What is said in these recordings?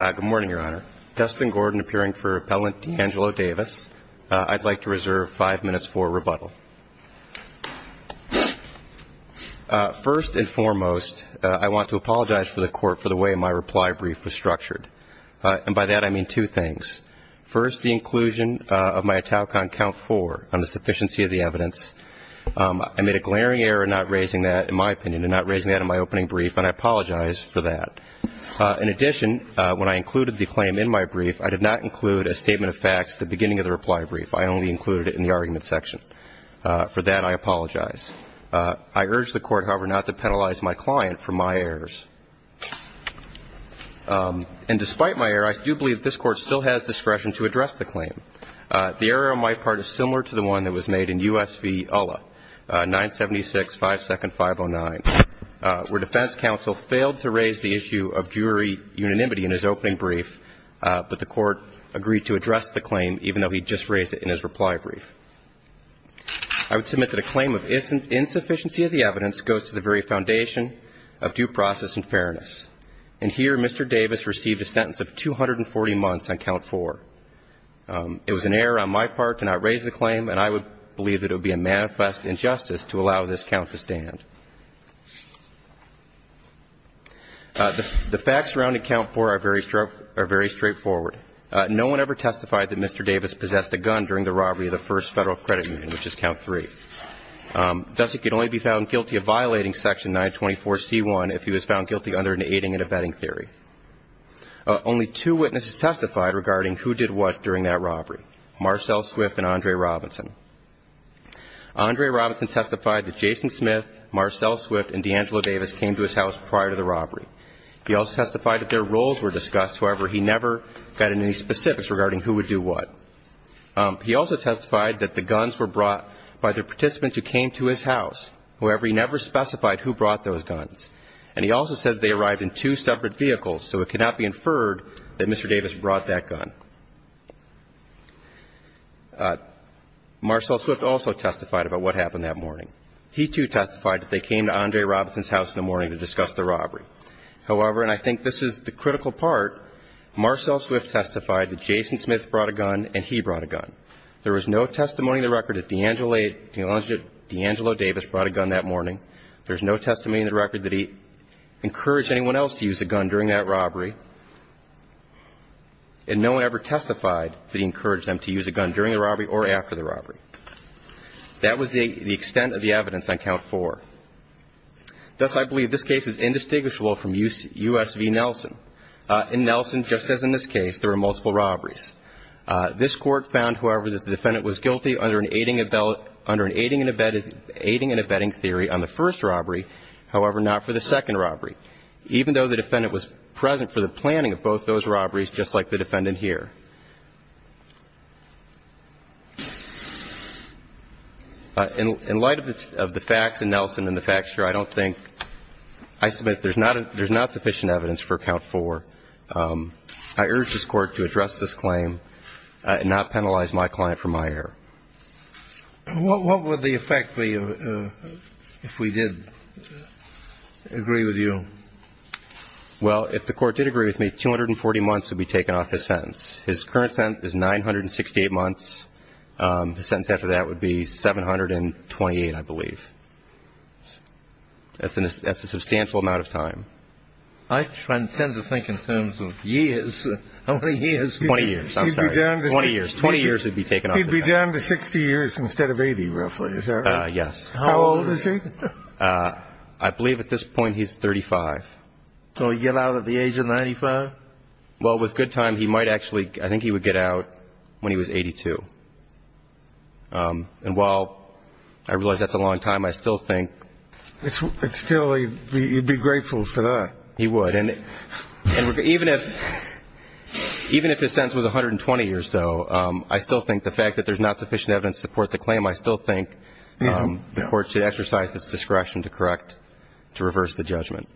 I'd like to reserve five minutes for rebuttal. First and foremost, I want to apologize for the court for the way my reply brief was structured. And by that I mean two things. First, the inclusion of my Italcon count four on the sufficiency of the evidence. I made a glaring error not raising that, in my opinion, and not raising that in my opening brief, and I apologize for that. In addition, when I included the claim in my brief, I did not include a statement of facts at the beginning of the reply brief. I only included it in the argument section. For that, I apologize. I urge the court, however, not to penalize my client for my errors. And despite my error, I do believe this Court still has discretion to address the claim. The error on my part is similar to the one that was made in U.S. v. Ullah, 976-5-509, where defense counsel failed to raise the issue of jury unanimity in his opening brief, but the court agreed to address the claim, even though he just raised it in his reply brief. I would submit that a claim of insufficiency of the evidence goes to the very foundation of due process and fairness. And here, Mr. Davis received a sentence of 240 months on count four. It was an error on my part to not raise the claim, and I would believe that it would be a manifest injustice to allow this count to stand. The facts surrounding count four are very straightforward. No one ever testified that Mr. Davis possessed a gun during the robbery of the First Federal Credit Union, which is count three. Thus, he could only be found guilty of violating Section 924C1 if he was found guilty under an aiding and abetting theory. There are two other people who testified that Mr. Davis possessed a gun during the robbery of the First Federal Credit Union, Marcelle Swift and Andre Robinson. Andre Robinson testified that Jason Smith, Marcelle Swift, and D'Angelo Davis came to his house prior to the robbery. He also testified that their roles were discussed, however, he never got any specifics regarding who would do what. He also testified that the guns were brought by the participants who came to his house, however, he never specified who brought those guns. And he also said that they arrived in two separate vehicles, so it cannot be inferred that Mr. Davis brought that gun. Marcelle Swift also testified about what happened that morning. He, too, testified that they came to Andre Robinson's house in the morning to discuss the robbery. However, and I think this is the critical part, Marcelle Swift testified that Jason Smith brought a gun and he brought a gun. There was no testimony in the record that D'Angelo Davis brought a gun that morning. There's no testimony in the record that he encouraged anyone else to use a gun during that robbery. And no one ever testified that he encouraged them to use a gun during the robbery or after the robbery. That was the extent of the evidence on Count 4. Thus, I believe this case is indistinguishable from U.S. v. Nelson. In Nelson, just as in this case, there were multiple robberies. This Court found, however, that the defendant was guilty under an aiding and abetting theory on the first robbery, however, not for the second robbery, even though the defendant was present for the planning of both those robberies, just like the defendant here. In light of the facts in Nelson and the facts here, I don't think – I submit there's not sufficient evidence for Count 4. I urge this Court to address this claim and not penalize my client for my error. What would the effect be if we did agree with you? Well, if the Court did agree with me, 240 months would be taken off his sentence. His current sentence is 968 months. The sentence after that would be 728, I believe. That's a substantial amount of time. I tend to think in terms of years. How many years? Twenty years. I'm sorry. Twenty years. Twenty years would be taken off his sentence. He'd be down to 60 years instead of 80, roughly, is that right? Yes. How old is he? I believe at this point he's 35. So he'd get out at the age of 95? Well, with good time, he might actually – I think he would get out when he was 82. And while I realize that's a long time, I still think – Still, he'd be grateful for that. He would. And even if his sentence was 120 years, though, I still think the fact that there's not sufficient evidence to support the claim, I still think the Court should exercise its discretion to correct, to reverse the judgment.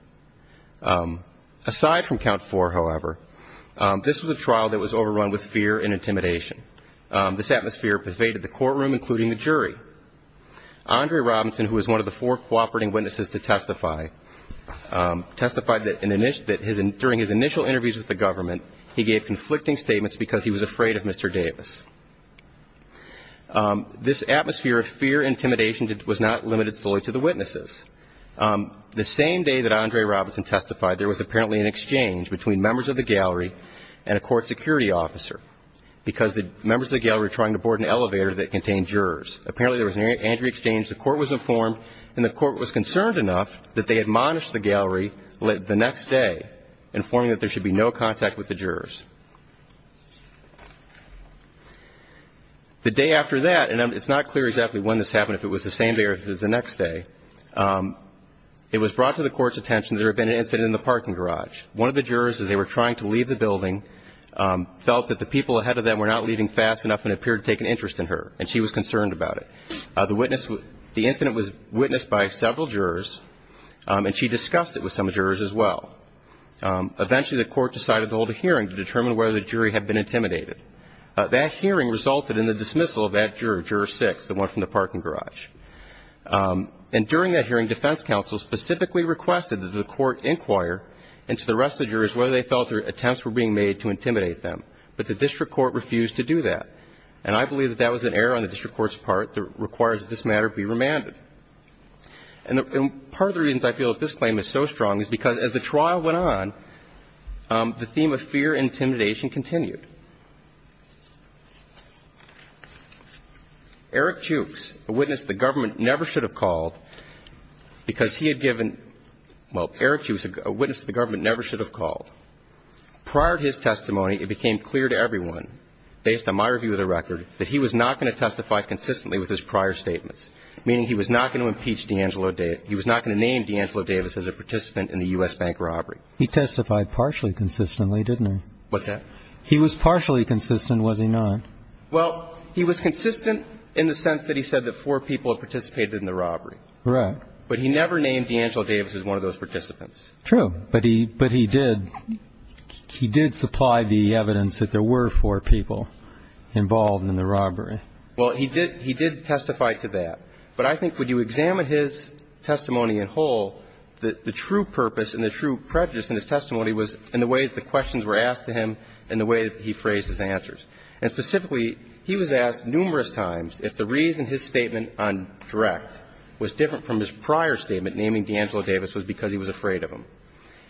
Aside from count four, however, this was a trial that was overrun with fear and intimidation. This atmosphere pervaded the courtroom, including the jury. Andre Robinson, who was one of the four cooperating witnesses to testify, testified that during his initial interviews with the government, he gave conflicting statements because he was afraid of Mr. Davis. This atmosphere of fear and intimidation was not limited solely to the witnesses. The same day that Andre Robinson testified, there was apparently an exchange between members of the gallery and a court security officer because the members of the gallery were trying to board an elevator that contained jurors. Apparently, there was an angry exchange, the court was informed, and the court was concerned enough that they admonished the gallery the next day, informing that there should be no contact with the jurors. The day after that – and it's not clear exactly when this happened, if it was the same day or if it was the next day – it was brought to the Court's attention that there had been an incident in the parking garage. One of the jurors, as they were trying to leave the building, felt that the people ahead of them were not leaving fast enough and appeared to take an interest in her, and she was concerned about it. The incident was witnessed by several jurors, and she discussed it with some jurors as well. Eventually, the court decided to hold a hearing to determine whether the jury had been intimidated. That hearing resulted in the dismissal of that juror, Juror 6, the one from the parking garage. And during that hearing, defense counsel specifically requested that the court inquire into the rest of the jurors whether they felt their attempts were being made to intimidate them, but the district court refused to do that. And I believe that that was an error on the district court's part that requires that this matter be remanded. And part of the reasons I feel that this claim is so strong is because as the trial went on, the theme of fear and intimidation continued. Eric Jukes, a witness the government never should have called, because he had given – well, Eric Jukes, a witness the government never should have called. Prior to his testimony, it became clear to everyone, based on my review of the record, that he was not going to testify consistently with his prior statements, meaning he was not going to impeach D'Angelo Davis. He was not going to name D'Angelo Davis as a participant in the U.S. bank robbery. He testified partially consistently, didn't he? What's that? He was partially consistent, was he not? Well, he was consistent in the sense that he said that four people had participated in the robbery. Correct. But he never named D'Angelo Davis as one of those participants. True. But he did. He did supply the evidence that there were four people involved in the robbery. Well, he did testify to that. But I think when you examine his testimony in whole, the true purpose and the true prejudice in his testimony was in the way that the questions were asked to him and the way that he phrased his answers. And specifically, he was asked numerous times if the reason his statement on direct was different from his prior statement naming D'Angelo Davis was because he was afraid of him.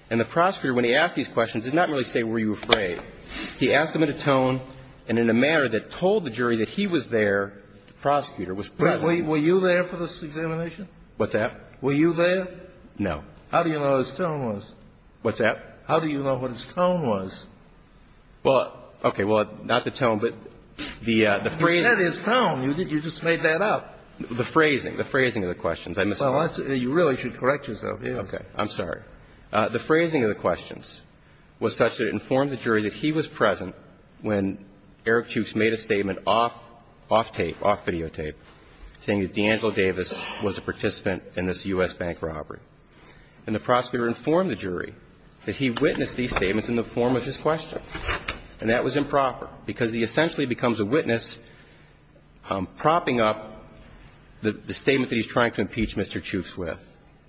And the prosecutor, when he asked these questions, did not really say, were you afraid? He asked them in a tone and in a manner that told the jury that he was there, the prosecutor was present. Were you there for this examination? What's that? Were you there? No. How do you know what his tone was? What's that? How do you know what his tone was? Well, okay. Well, not the tone, but the phrasing. You said his tone. You just made that up. The phrasing. The phrasing of the questions. I misunderstood. Well, you really should correct yourself. Yes. Okay. I'm sorry. The phrasing of the questions was such that it informed the jury that he was present when Eric Chuks made a statement off tape, off videotape, saying that D'Angelo Davis was a participant in this U.S. bank robbery. And the prosecutor informed the jury that he witnessed these statements in the form of his question. And that was improper because he essentially becomes a witness propping up the statement that he's trying to impeach Mr. Chuks with.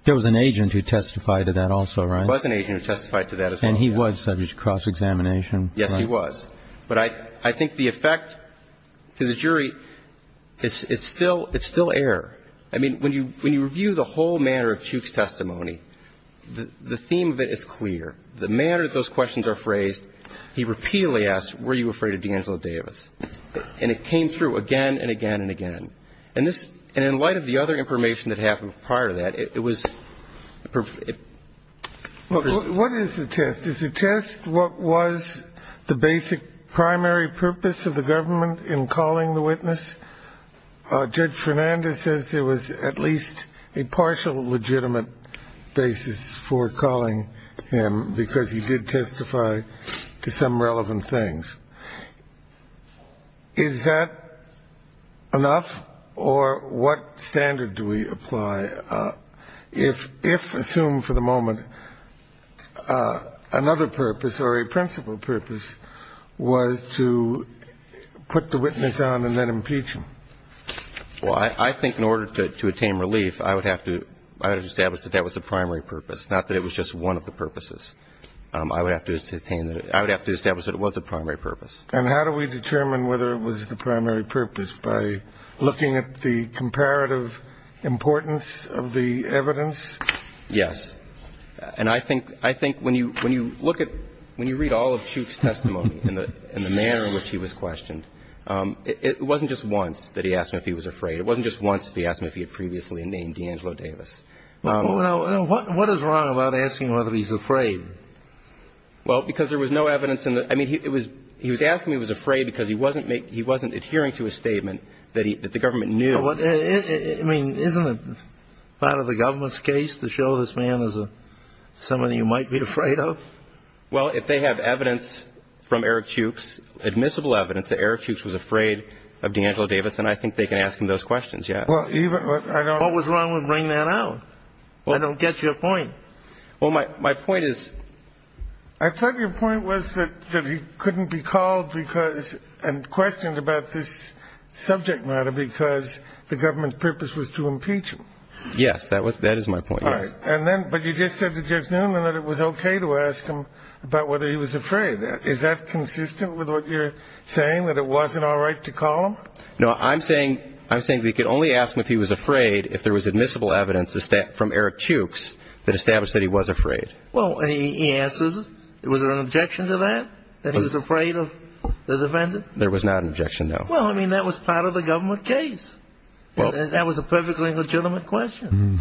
There was an agent who testified to that also, right? There was an agent who testified to that as well. And he was subject to cross-examination. Yes, he was. But I think the effect to the jury, it's still error. I mean, when you review the whole manner of Chuks' testimony, the theme of it is clear. The manner that those questions are phrased, he repeatedly asks, were you afraid of D'Angelo Davis? And it came through again and again and again. And in light of the other information that happened prior to that, it was perfect. What is the test? Is the test what was the basic primary purpose of the government in calling the witness? Judge Fernandez says there was at least a partial legitimate basis for calling him because he did testify to some relevant things. Is that enough? Or what standard do we apply if, assume for the moment, another purpose or a principal purpose was to put the witness on and then impeach him? Well, I think in order to attain relief, I would have to establish that that was the primary purpose, I would have to establish that it was the primary purpose. And how do we determine whether it was the primary purpose? By looking at the comparative importance of the evidence? Yes. And I think when you read all of Chuks' testimony and the manner in which he was questioned, it wasn't just once that he asked him if he was afraid. It wasn't just once that he asked him if he had previously named D'Angelo Davis. What is wrong about asking whether he's afraid? Well, because there was no evidence in the – I mean, he was asking if he was afraid because he wasn't adhering to a statement that the government knew. I mean, isn't it part of the government's case to show this man as somebody you might be afraid of? Well, if they have evidence from Eric Chuks, admissible evidence that Eric Chuks was afraid of D'Angelo Davis, then I think they can ask him those questions, yes. Well, even – I don't – What was wrong with bringing that out? I don't get your point. Well, my point is – I thought your point was that he couldn't be called because – and questioned about this subject matter because the government's purpose was to impeach him. Yes, that is my point, yes. All right. And then – but you just said to Jeff Newman that it was okay to ask him about whether he was afraid. Is that consistent with what you're saying, that it wasn't all right to call him? No, I'm saying we could only ask him if he was afraid if there was admissible evidence from Eric Chuks that established that he was afraid. Well, and he answers it. Was there an objection to that, that he was afraid of the defendant? There was not an objection, no. Well, I mean, that was part of the government case. That was a perfectly legitimate question.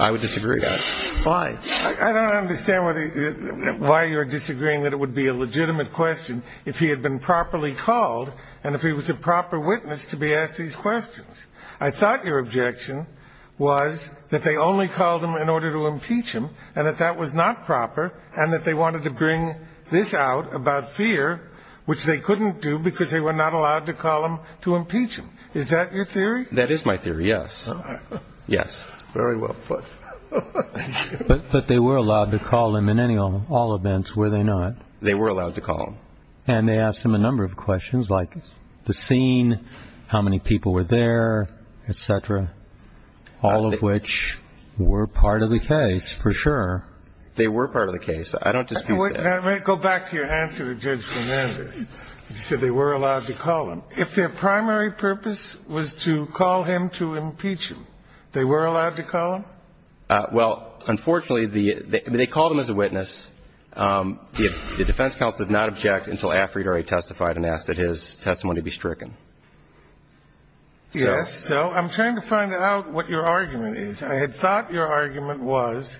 I would disagree on it. Why? I don't understand why you're disagreeing that it would be a legitimate question if he had been properly called and if he was a proper witness to be asked these questions. I thought your objection was that they only called him in order to impeach him and that that was not proper and that they wanted to bring this out about fear, which they couldn't do because they were not allowed to call him to impeach him. Is that your theory? That is my theory, yes. All right. Yes. Very well put. Thank you. But they were allowed to call him in all events, were they not? They were allowed to call him. And they asked him a number of questions like the scene, how many people were there, et cetera, all of which were part of the case for sure. They were part of the case. I don't dispute that. Let me go back to your answer to Judge Fernandez. You said they were allowed to call him. If their primary purpose was to call him to impeach him, they were allowed to call him? Well, unfortunately, they called him as a witness. The defense counsel did not object until after he had already testified and asked that his testimony be stricken. Yes. So I'm trying to find out what your argument is. I had thought your argument was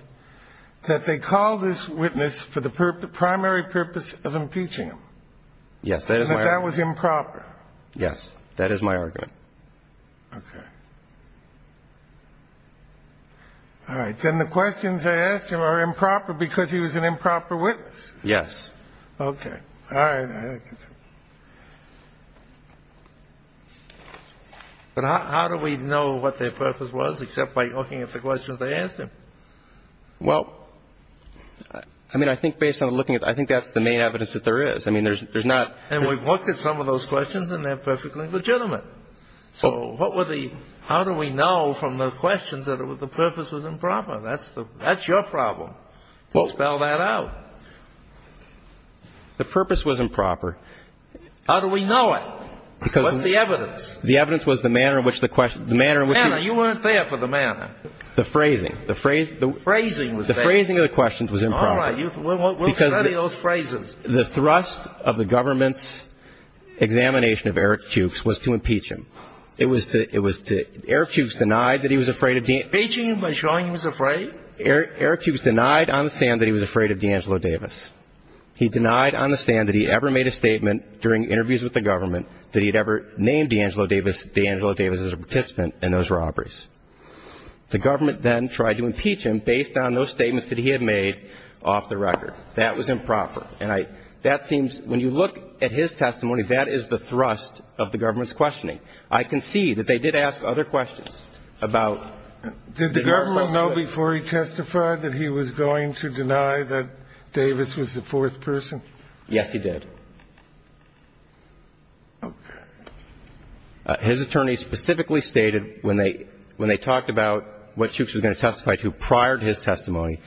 that they called this witness for the primary purpose of impeaching him. Yes. And that that was improper. Yes. That is my argument. Okay. All right. Then the questions they asked him are improper because he was an improper witness? Yes. Okay. All right. But how do we know what their purpose was except by looking at the questions they asked him? Well, I mean, I think based on looking at it, I think that's the main evidence that there is. I mean, there's not ---- And we've looked at some of those questions, and they're perfectly legitimate. So what were the ---- How do we know from the questions that the purpose was improper? That's your problem, to spell that out. The purpose was improper. How do we know it? Because ---- What's the evidence? The evidence was the manner in which the question ---- The manner. You weren't there for the manner. The phrasing. The phrasing. The phrasing was there. The phrasing of the questions was improper. All right. We'll study those phrases. The thrust of the government's examination of Eric Jukes was to impeach him. It was to ---- Eric Jukes denied that he was afraid of ---- Impeaching him by showing he was afraid? Eric Jukes denied on the stand that he was afraid of D'Angelo Davis. He denied on the stand that he ever made a statement during interviews with the government that he had ever named D'Angelo Davis as a participant in those robberies. The government then tried to impeach him based on those statements that he had made off the record. That was improper. And I ---- that seems ---- when you look at his testimony, that is the thrust of the government's questioning. I can see that they did ask other questions about ---- Did the government know before he testified that he was going to deny that Davis was the fourth person? Yes, he did. Okay. His attorney specifically stated when they ---- when they talked about what Jukes was going to testify to prior to his testimony,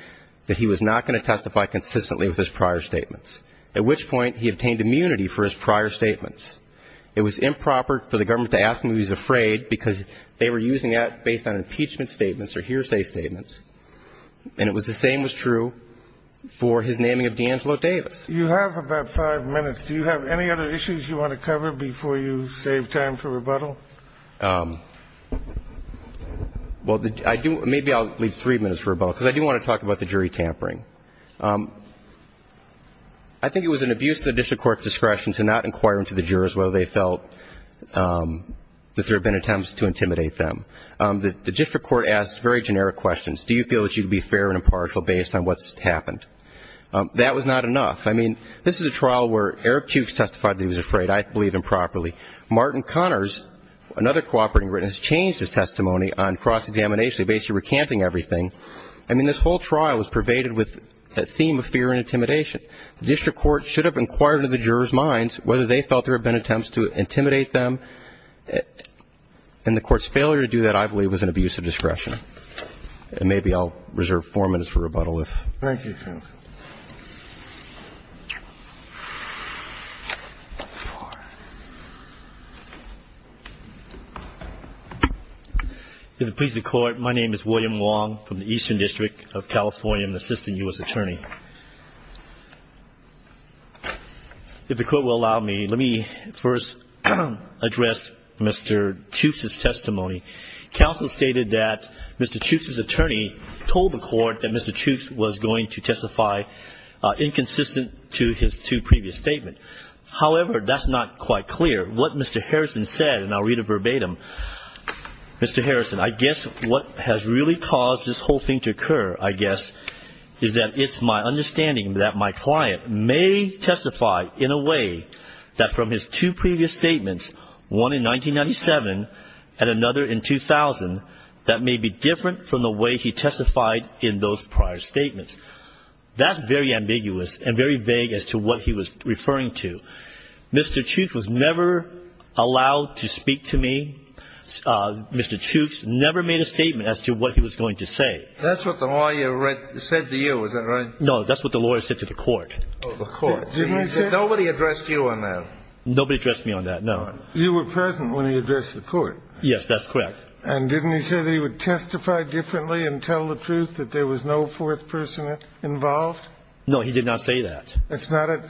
that he was not going to testify consistently with his prior statements, at which point he obtained immunity for his prior statements. It was improper for the government to ask him if he was afraid because they were using that based on impeachment statements or hearsay statements. And it was the same was true for his naming of D'Angelo Davis. You have about five minutes. Do you have any other issues you want to cover before you save time for rebuttal? Well, I do ---- maybe I'll leave three minutes for rebuttal because I do want to talk about the jury tampering. I think it was an abuse of the district court's discretion to not inquire into the jurors whether they felt that there had been attempts to intimidate them. The district court asked very generic questions. Do you feel that you'd be fair and impartial based on what's happened? That was not enough. I mean, this is a trial where Eric Jukes testified that he was afraid. I believe improperly. Martin Connors, another cooperating witness, changed his testimony on cross-examination, basically recanting everything. I mean, this whole trial was pervaded with a theme of fear and intimidation. The district court should have inquired into the jurors' minds whether they felt there had been attempts to intimidate them. And the court's failure to do that, I believe, was an abuse of discretion. And maybe I'll reserve four minutes for rebuttal if ---- Thank you, counsel. If it pleases the court, my name is William Wong from the Eastern District of California. I'm an assistant U.S. attorney. If the court will allow me, let me first address Mr. Jukes' testimony. Counsel stated that Mr. Jukes' attorney told the court that Mr. Jukes was going to testify inconsistent to his two previous statements. However, that's not quite clear. What Mr. Harrison said, and I'll read it verbatim, Mr. Harrison, I guess what has really caused this whole thing to occur, I guess, is that it's my understanding that my client may testify in a way that from his two previous statements, one in 1997 and another in 2000, that may be different from the way he testified in those prior statements. That's very ambiguous and very vague as to what he was referring to. Mr. Jukes was never allowed to speak to me. Mr. Jukes never made a statement as to what he was going to say. That's what the lawyer said to you, is that right? No, that's what the lawyer said to the court. Oh, the court. Nobody addressed you on that? Nobody addressed me on that, no. You were present when he addressed the court. Yes, that's correct. And didn't he say that he would testify differently and tell the truth, that there was no fourth person involved? No, he did not say that. It's not at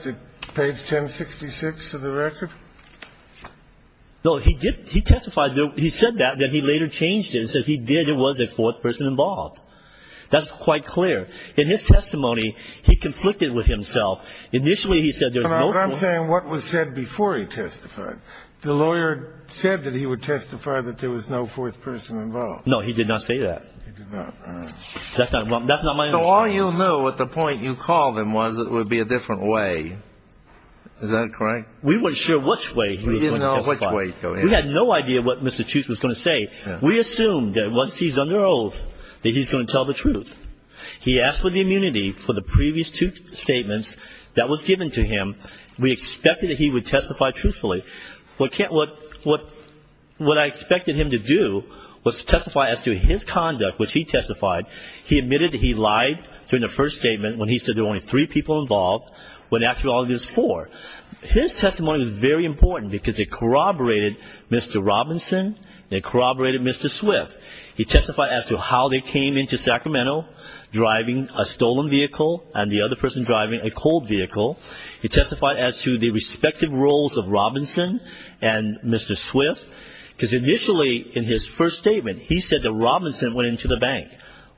page 1066 of the record? No, he testified. He said that, but he later changed it and said if he did, there was a fourth person involved. That's quite clear. In his testimony, he conflicted with himself. But I'm saying what was said before he testified. The lawyer said that he would testify that there was no fourth person involved. No, he did not say that. He did not. That's not my understanding. So all you knew at the point you called him was it would be a different way. Is that correct? We weren't sure which way he was going to testify. We didn't know which way he was going to testify. We had no idea what Mr. Jukes was going to say. We assumed that once he's under oath, that he's going to tell the truth. He asked for the immunity for the previous two statements that was given to him. We expected that he would testify truthfully. What I expected him to do was to testify as to his conduct, which he testified. He admitted that he lied during the first statement when he said there were only three people involved, when actually all he did was four. His testimony was very important because it corroborated Mr. Robinson. It corroborated Mr. Swift. He testified as to how they came into Sacramento driving a stolen vehicle and the other person driving a cold vehicle. He testified as to the respective roles of Robinson and Mr. Swift because initially in his first statement he said that Robinson went into the bank.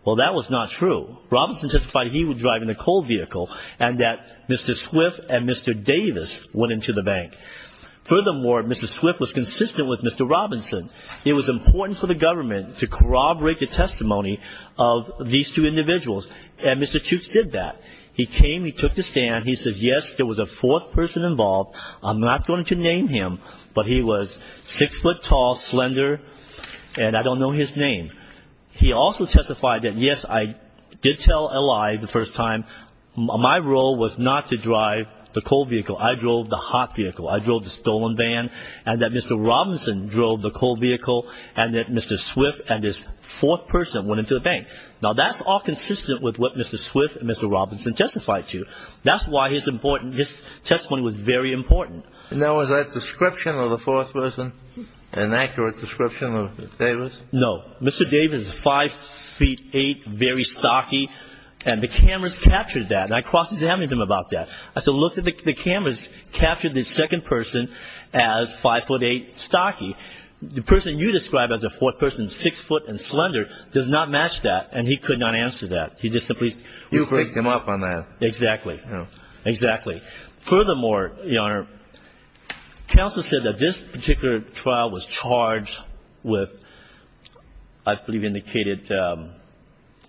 Well, that was not true. Robinson testified he was driving the cold vehicle and that Mr. Swift and Mr. Davis went into the bank. Furthermore, Mr. Swift was consistent with Mr. Robinson. It was important for the government to corroborate the testimony of these two individuals, and Mr. Chutes did that. He came. He took the stand. He said, yes, there was a fourth person involved. I'm not going to name him, but he was six foot tall, slender, and I don't know his name. He also testified that, yes, I did tell a lie the first time. My role was not to drive the cold vehicle. I drove the hot vehicle. I drove the stolen van and that Mr. Robinson drove the cold vehicle and that Mr. Swift and this fourth person went into the bank. Now, that's all consistent with what Mr. Swift and Mr. Robinson testified to. That's why his testimony was very important. Now, was that description of the fourth person an accurate description of Davis? No. Mr. Davis was five feet eight, very stocky, and the cameras captured that, and I cross-examined him about that. I said, look, the cameras captured the second person as five foot eight, stocky. The person you described as the fourth person, six foot and slender, does not match that, and he could not answer that. He just simply spoke. You break them up on that. Exactly. Exactly. Furthermore, Your Honor, counsel said that this particular trial was charged with, I believe, indicated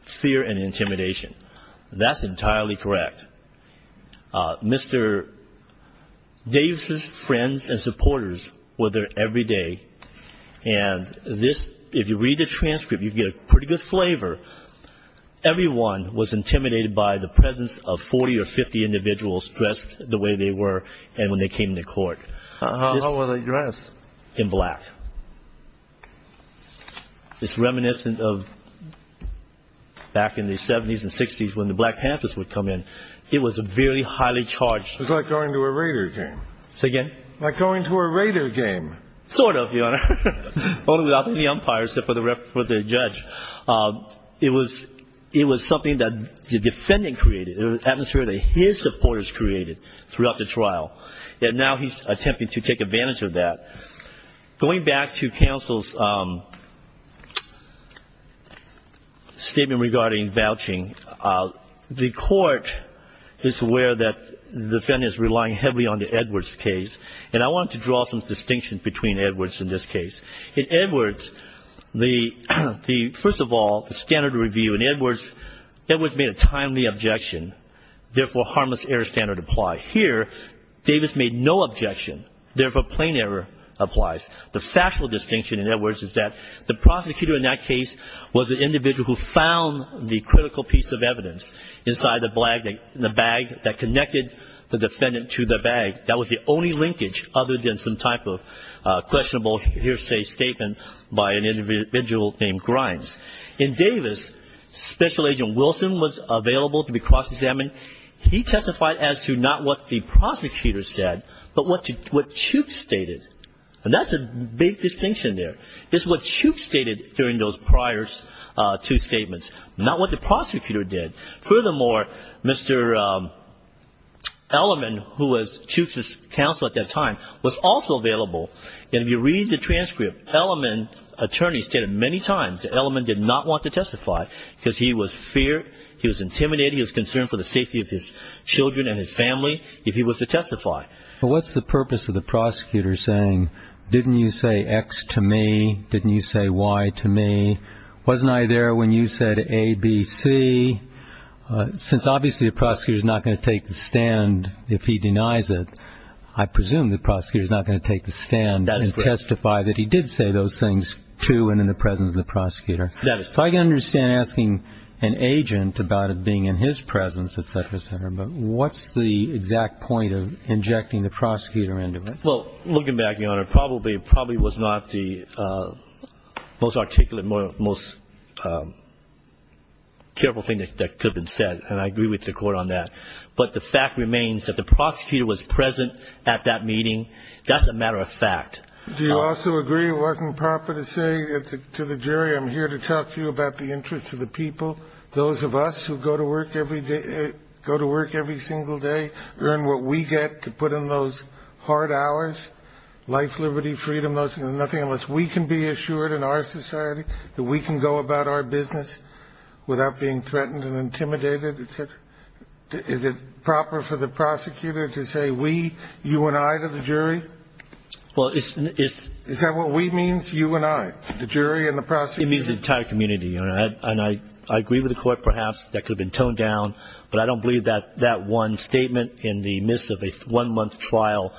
fear and intimidation. That's entirely correct. Mr. Davis' friends and supporters were there every day, and this, if you read the transcript, you get a pretty good flavor. Everyone was intimidated by the presence of 40 or 50 individuals dressed the way they were and when they came to court. How were they dressed? In black. It's reminiscent of back in the 70s and 60s when the Black Panthers would come in. It was very highly charged. It was like going to a Raiders game. Say again? Like going to a Raiders game. Sort of, Your Honor. Only without the umpire, except for the judge. It was something that the defendant created. It was an atmosphere that his supporters created throughout the trial, and now he's attempting to take advantage of that. Going back to counsel's statement regarding vouching, the court is aware that the defendant is relying heavily on the Edwards case, and I want to draw some distinctions between Edwards and this case. In Edwards, first of all, the standard review. In Edwards, Edwards made a timely objection, therefore, harmless error standard applied. Here, Davis made no objection, therefore, plain error applies. The factual distinction in Edwards is that the prosecutor in that case was an individual who found the critical piece of evidence inside the bag that connected the defendant to the bag. That was the only linkage other than some type of questionable hearsay statement by an individual named Grimes. In Davis, Special Agent Wilson was available to be cross-examined. He testified as to not what the prosecutor said, but what Chukes stated, and that's a big distinction there. It's what Chukes stated during those prior two statements, not what the prosecutor did. Furthermore, Mr. Elliman, who was Chukes's counsel at that time, was also available, and if you read the transcript, Elliman's attorney stated many times that Elliman did not want to testify because he was feared, he was intimidated, he was concerned for the safety of his children and his family if he was to testify. But what's the purpose of the prosecutor saying, didn't you say X to me, didn't you say Y to me, wasn't I there when you said A, B, C? Since obviously the prosecutor is not going to take the stand if he denies it, I presume the prosecutor is not going to take the stand and testify that he did say those things to and in the presence of the prosecutor. If I can understand asking an agent about it being in his presence, et cetera, et cetera, but what's the exact point of injecting the prosecutor into it? Well, looking back, Your Honor, it probably was not the most articulate, most careful thing that could have been said, and I agree with the Court on that. But the fact remains that the prosecutor was present at that meeting. That's a matter of fact. Do you also agree it wasn't proper to say to the jury, I'm here to talk to you about the interests of the people, those of us who go to work every day, go to work every single day, earn what we get to put in those hard hours, life, liberty, freedom, nothing unless we can be assured in our society that we can go about our business without being threatened and intimidated, et cetera? Is it proper for the prosecutor to say we, you and I, to the jury? Is that what we means, you and I, the jury and the prosecutor? It means the entire community, Your Honor, and I agree with the Court perhaps that could have been toned down, but I don't believe that that one statement in the midst of a one-month trial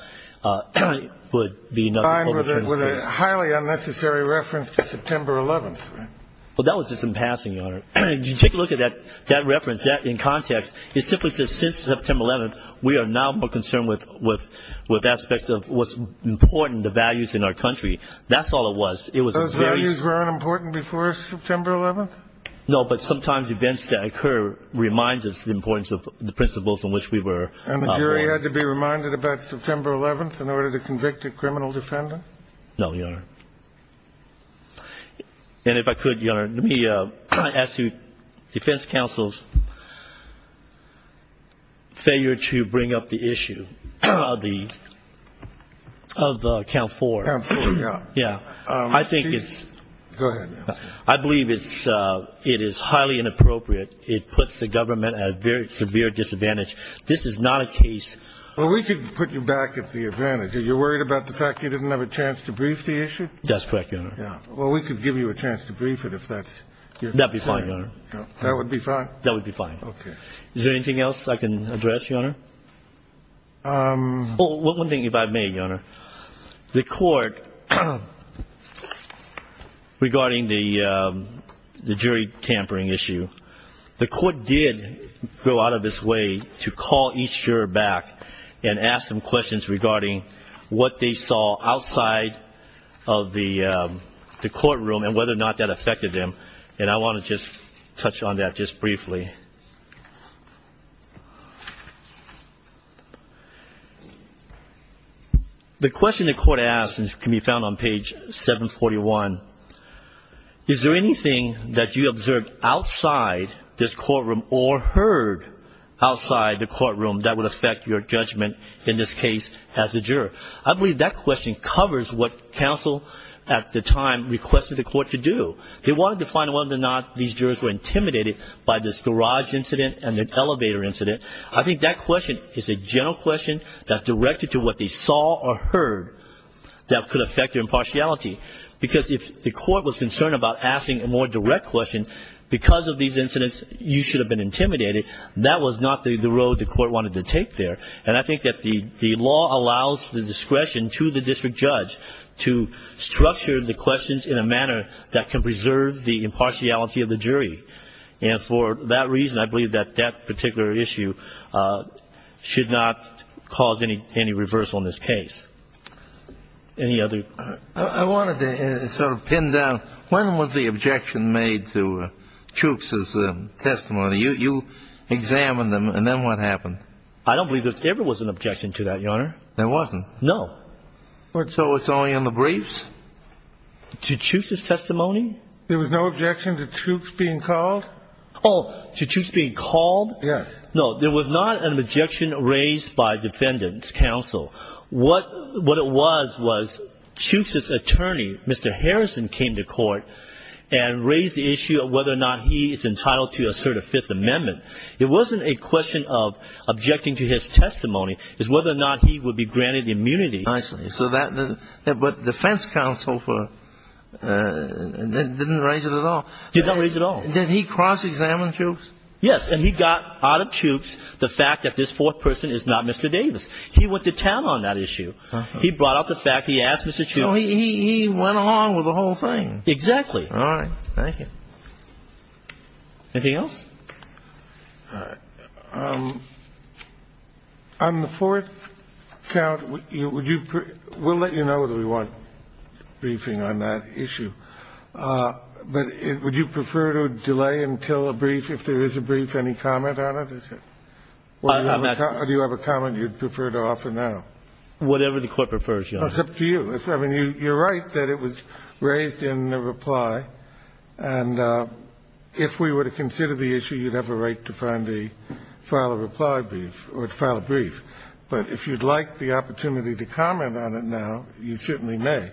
would be another public transgression. Fine with a highly unnecessary reference to September 11th, right? Well, that was just in passing, Your Honor. If you take a look at that reference in context, it simply says since September 11th, we are now more concerned with aspects of what's important, the values in our country. That's all it was. Those values weren't important before September 11th? No, but sometimes events that occur remind us of the importance of the principles on which we were. And the jury had to be reminded about September 11th in order to convict a criminal defendant? No, Your Honor. And if I could, Your Honor, let me ask you defense counsel's failure to bring up the issue of the count four. Count four, yeah. Yeah. I think it's. Go ahead. I believe it is highly inappropriate. It puts the government at a very severe disadvantage. This is not a case. Well, we could put you back at the advantage. You're worried about the fact you didn't have a chance to brief the issue? That's correct, Your Honor. Well, we could give you a chance to brief it if that's... That would be fine, Your Honor. That would be fine? That would be fine. Okay. Is there anything else I can address, Your Honor? One thing if I may, Your Honor. The court regarding the jury tampering issue, the court did go out of its way to call each juror back and ask them questions regarding what they saw outside of the courtroom and whether or not that affected them, and I want to just touch on that just briefly. The question the court asked can be found on page 741. Is there anything that you observed outside this courtroom or heard outside the courtroom that would affect your judgment in this case as a juror? I believe that question covers what counsel at the time requested the court to do. They wanted to find whether or not these jurors were intimidated by this garage incident and the elevator incident. I think that question is a general question that's directed to what they saw or heard that could affect their impartiality because if the court was concerned about asking a more direct question, because of these incidents you should have been intimidated. That was not the road the court wanted to take there, and I think that the law allows the discretion to the district judge to structure the questions in a manner that can preserve the impartiality of the jury, and for that reason I believe that that particular issue should not cause any reversal in this case. Any other? I wanted to sort of pin down, when was the objection made to Chooks' testimony? You examined them, and then what happened? I don't believe there ever was an objection to that, Your Honor. There wasn't? No. So it's only in the briefs? To Chooks' testimony? There was no objection to Chooks being called? Oh, to Chooks being called? Yes. No, there was not an objection raised by defendants, counsel. What it was was Chooks' attorney, Mr. Harrison, came to court and raised the issue of whether or not he is entitled to assert a Fifth Amendment. It wasn't a question of objecting to his testimony. It was whether or not he would be granted immunity. I see. But defense counsel didn't raise it at all. Did not raise it at all. Did he cross-examine Chooks? Yes, and he got out of Chooks the fact that this fourth person is not Mr. Davis. He went to town on that issue. He brought out the fact. He asked Mr. Chooks. He went along with the whole thing. Exactly. All right. Thank you. Anything else? On the fourth count, would you per ---- we'll let you know whether we want briefing on that issue, but would you prefer to delay until a brief, if there is a brief, any comment on it? What is it? Do you have a comment you'd prefer to offer now? Whatever the Court prefers, Your Honor. It's up to you. I mean, you're right that it was raised in the reply, and if we were to consider the issue, you'd have a right to find a file a reply brief or file a brief. But if you'd like the opportunity to comment on it now, you certainly may.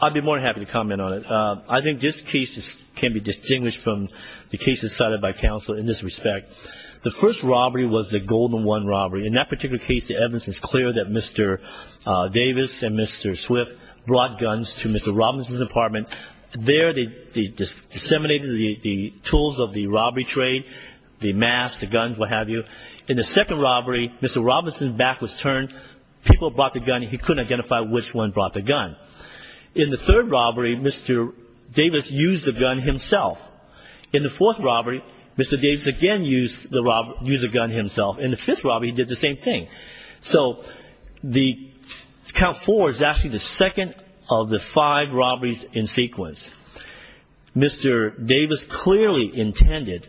I'd be more than happy to comment on it. I think this case can be distinguished from the cases cited by counsel in this respect. The first robbery was the Golden One robbery. In that particular case, the evidence is clear that Mr. Davis and Mr. Swift brought guns to Mr. Robinson's apartment. There they disseminated the tools of the robbery trade, the masks, the guns, what have you. In the second robbery, Mr. Robinson's back was turned. People brought the gun. He couldn't identify which one brought the gun. In the third robbery, Mr. Davis used the gun himself. In the fourth robbery, Mr. Davis again used the gun himself. In the fifth robbery, he did the same thing. So the count four is actually the second of the five robberies in sequence. Mr. Davis clearly intended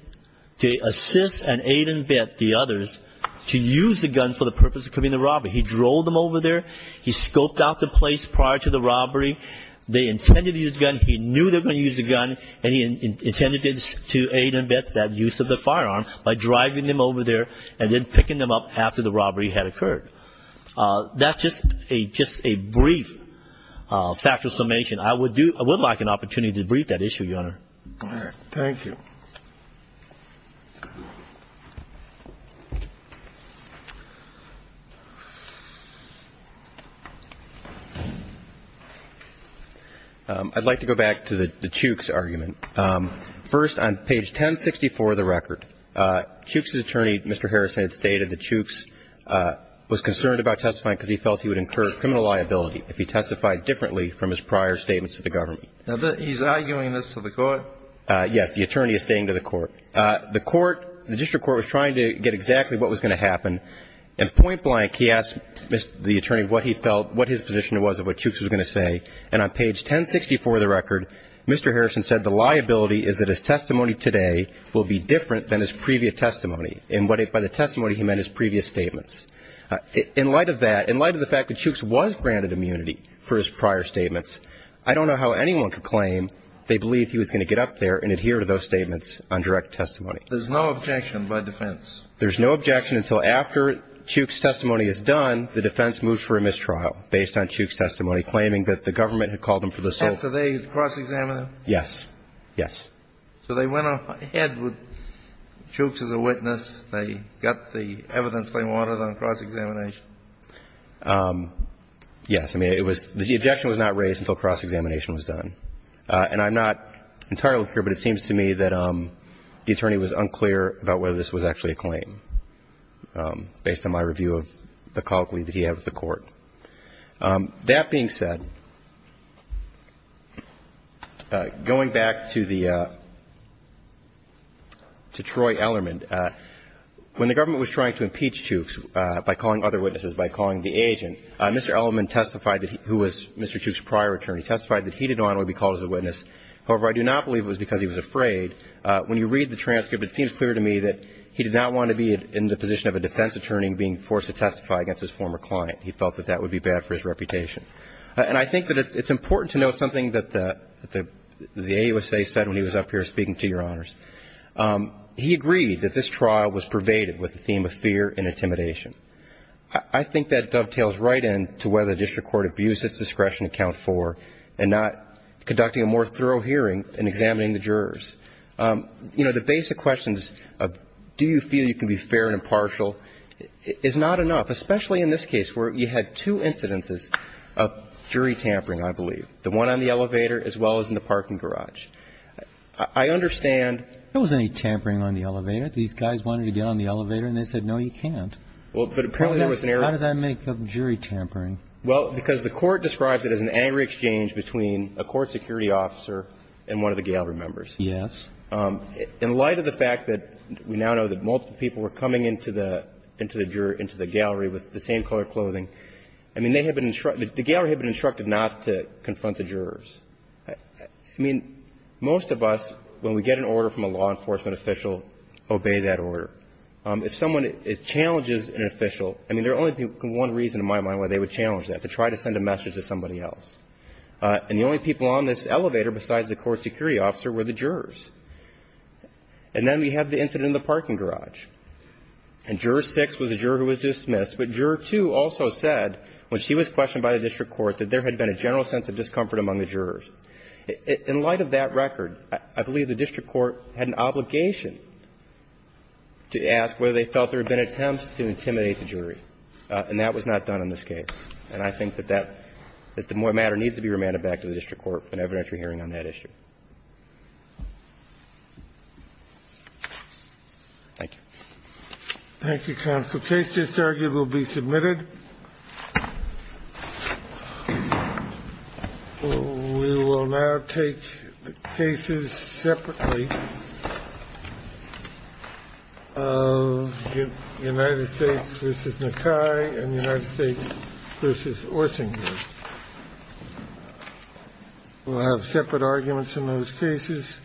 to assist and aid and vet the others to use the gun for the purpose of committing the robbery. He drove them over there. He scoped out the place prior to the robbery. They intended to use the gun. He knew they were going to use the gun, and he intended to aid and vet that use of the firearm by driving them over there and then picking them up after the robbery had occurred. That's just a brief factual summation. I would like an opportunity to brief that issue, Your Honor. All right. Thank you. I'd like to go back to the Chooks argument. First, on page 1064 of the record, Chooks' attorney, Mr. Harrison, had stated that Chooks was concerned about testifying because he felt he would incur criminal liability if he testified differently from his prior statements to the government. The District Court, yes, the attorney is stating to the Court, the Court, the District Court was trying to get exactly what was going to happen, and point blank he asked the attorney what he felt, what his position was of what Chooks was going to say. And on page 1064 of the record, Mr. Harrison said the liability is that his testimony today will be different than his previous testimony, and by the testimony he meant his previous statements. In light of that, in light of the fact that Chooks was granted immunity for his prior statements, I don't know how anyone could claim they believed he was going to get up there and adhere to those statements on direct testimony. There's no objection by defense. There's no objection until after Chooks' testimony is done, the defense moves for a mistrial based on Chooks' testimony, claiming that the government had called him for the sole. After they had cross-examined him? Yes. Yes. So they went ahead with Chooks as a witness. They got the evidence they wanted on cross-examination. Yes. I mean, it was the objection was not raised until cross-examination was done. And I'm not entirely sure, but it seems to me that the attorney was unclear about whether this was actually a claim, based on my review of the colleague that he had with the Court. That being said, going back to the – to Troy Ellermann, when the government was trying to impeach Chooks by calling other witnesses, by calling the agent, Mr. Ellermann testified that he – who was Mr. Chooks' prior attorney, testified that he did not want to be called as a witness. However, I do not believe it was because he was afraid. When you read the transcript, it seems clear to me that he did not want to be in the position of a defense attorney being forced to testify against his former client. He felt that that would be bad for his reputation. And I think that it's important to note something that the AUSA said when he was up here speaking to Your Honors. He agreed that this trial was pervaded with the theme of fear and intimidation. I think that dovetails right in to whether the district court abused its discretion to count four and not conducting a more thorough hearing and examining the jurors. You know, the basic questions of do you feel you can be fair and impartial is not enough, especially in this case where you had two incidences of jury tampering, I believe, the one on the elevator as well as in the parking garage. I understand. There wasn't any tampering on the elevator. These guys wanted to get on the elevator, and they said, no, you can't. Well, but apparently there was an error. How does that make up jury tampering? Well, because the Court describes it as an angry exchange between a court security officer and one of the gallery members. Yes. In light of the fact that we now know that multiple people were coming into the gallery with the same color clothing, I mean, they had been instructed, the gallery had been instructed not to confront the jurors. I mean, most of us, when we get an order from a law enforcement official, obey that order. If someone challenges an official, I mean, there would only be one reason in my mind why they would challenge that, to try to send a message to somebody else. And the only people on this elevator besides the court security officer were the jurors. And then we have the incident in the parking garage. And Juror 6 was a juror who was dismissed. But Juror 2 also said, when she was questioned by the district court, that there had been a general sense of discomfort among the jurors. In light of that record, I believe the district court had an obligation to ask whether they felt there had been attempts to intimidate the jury. And that was not done in this case. And I think that that the matter needs to be remanded back to the district court for an evidentiary hearing on that issue. Thank you. Thank you, counsel. The case just argued will be submitted. We will now take the cases separately of United States v. Nakai and United States v. Orsinger. We'll have separate arguments in those cases. Thank you. Thank you. Which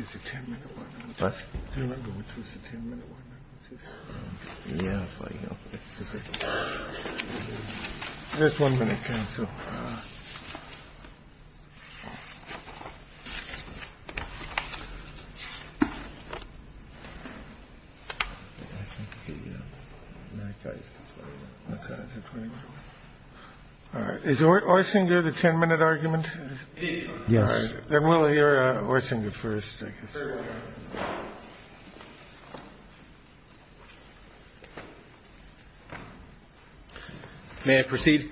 is the 10-minute one? What? Do you remember which was the 10-minute one? Yeah. Just one minute, counsel. Is Orsinger the 10-minute argument? Yes. Then we'll hear Orsinger first, I guess. May I proceed?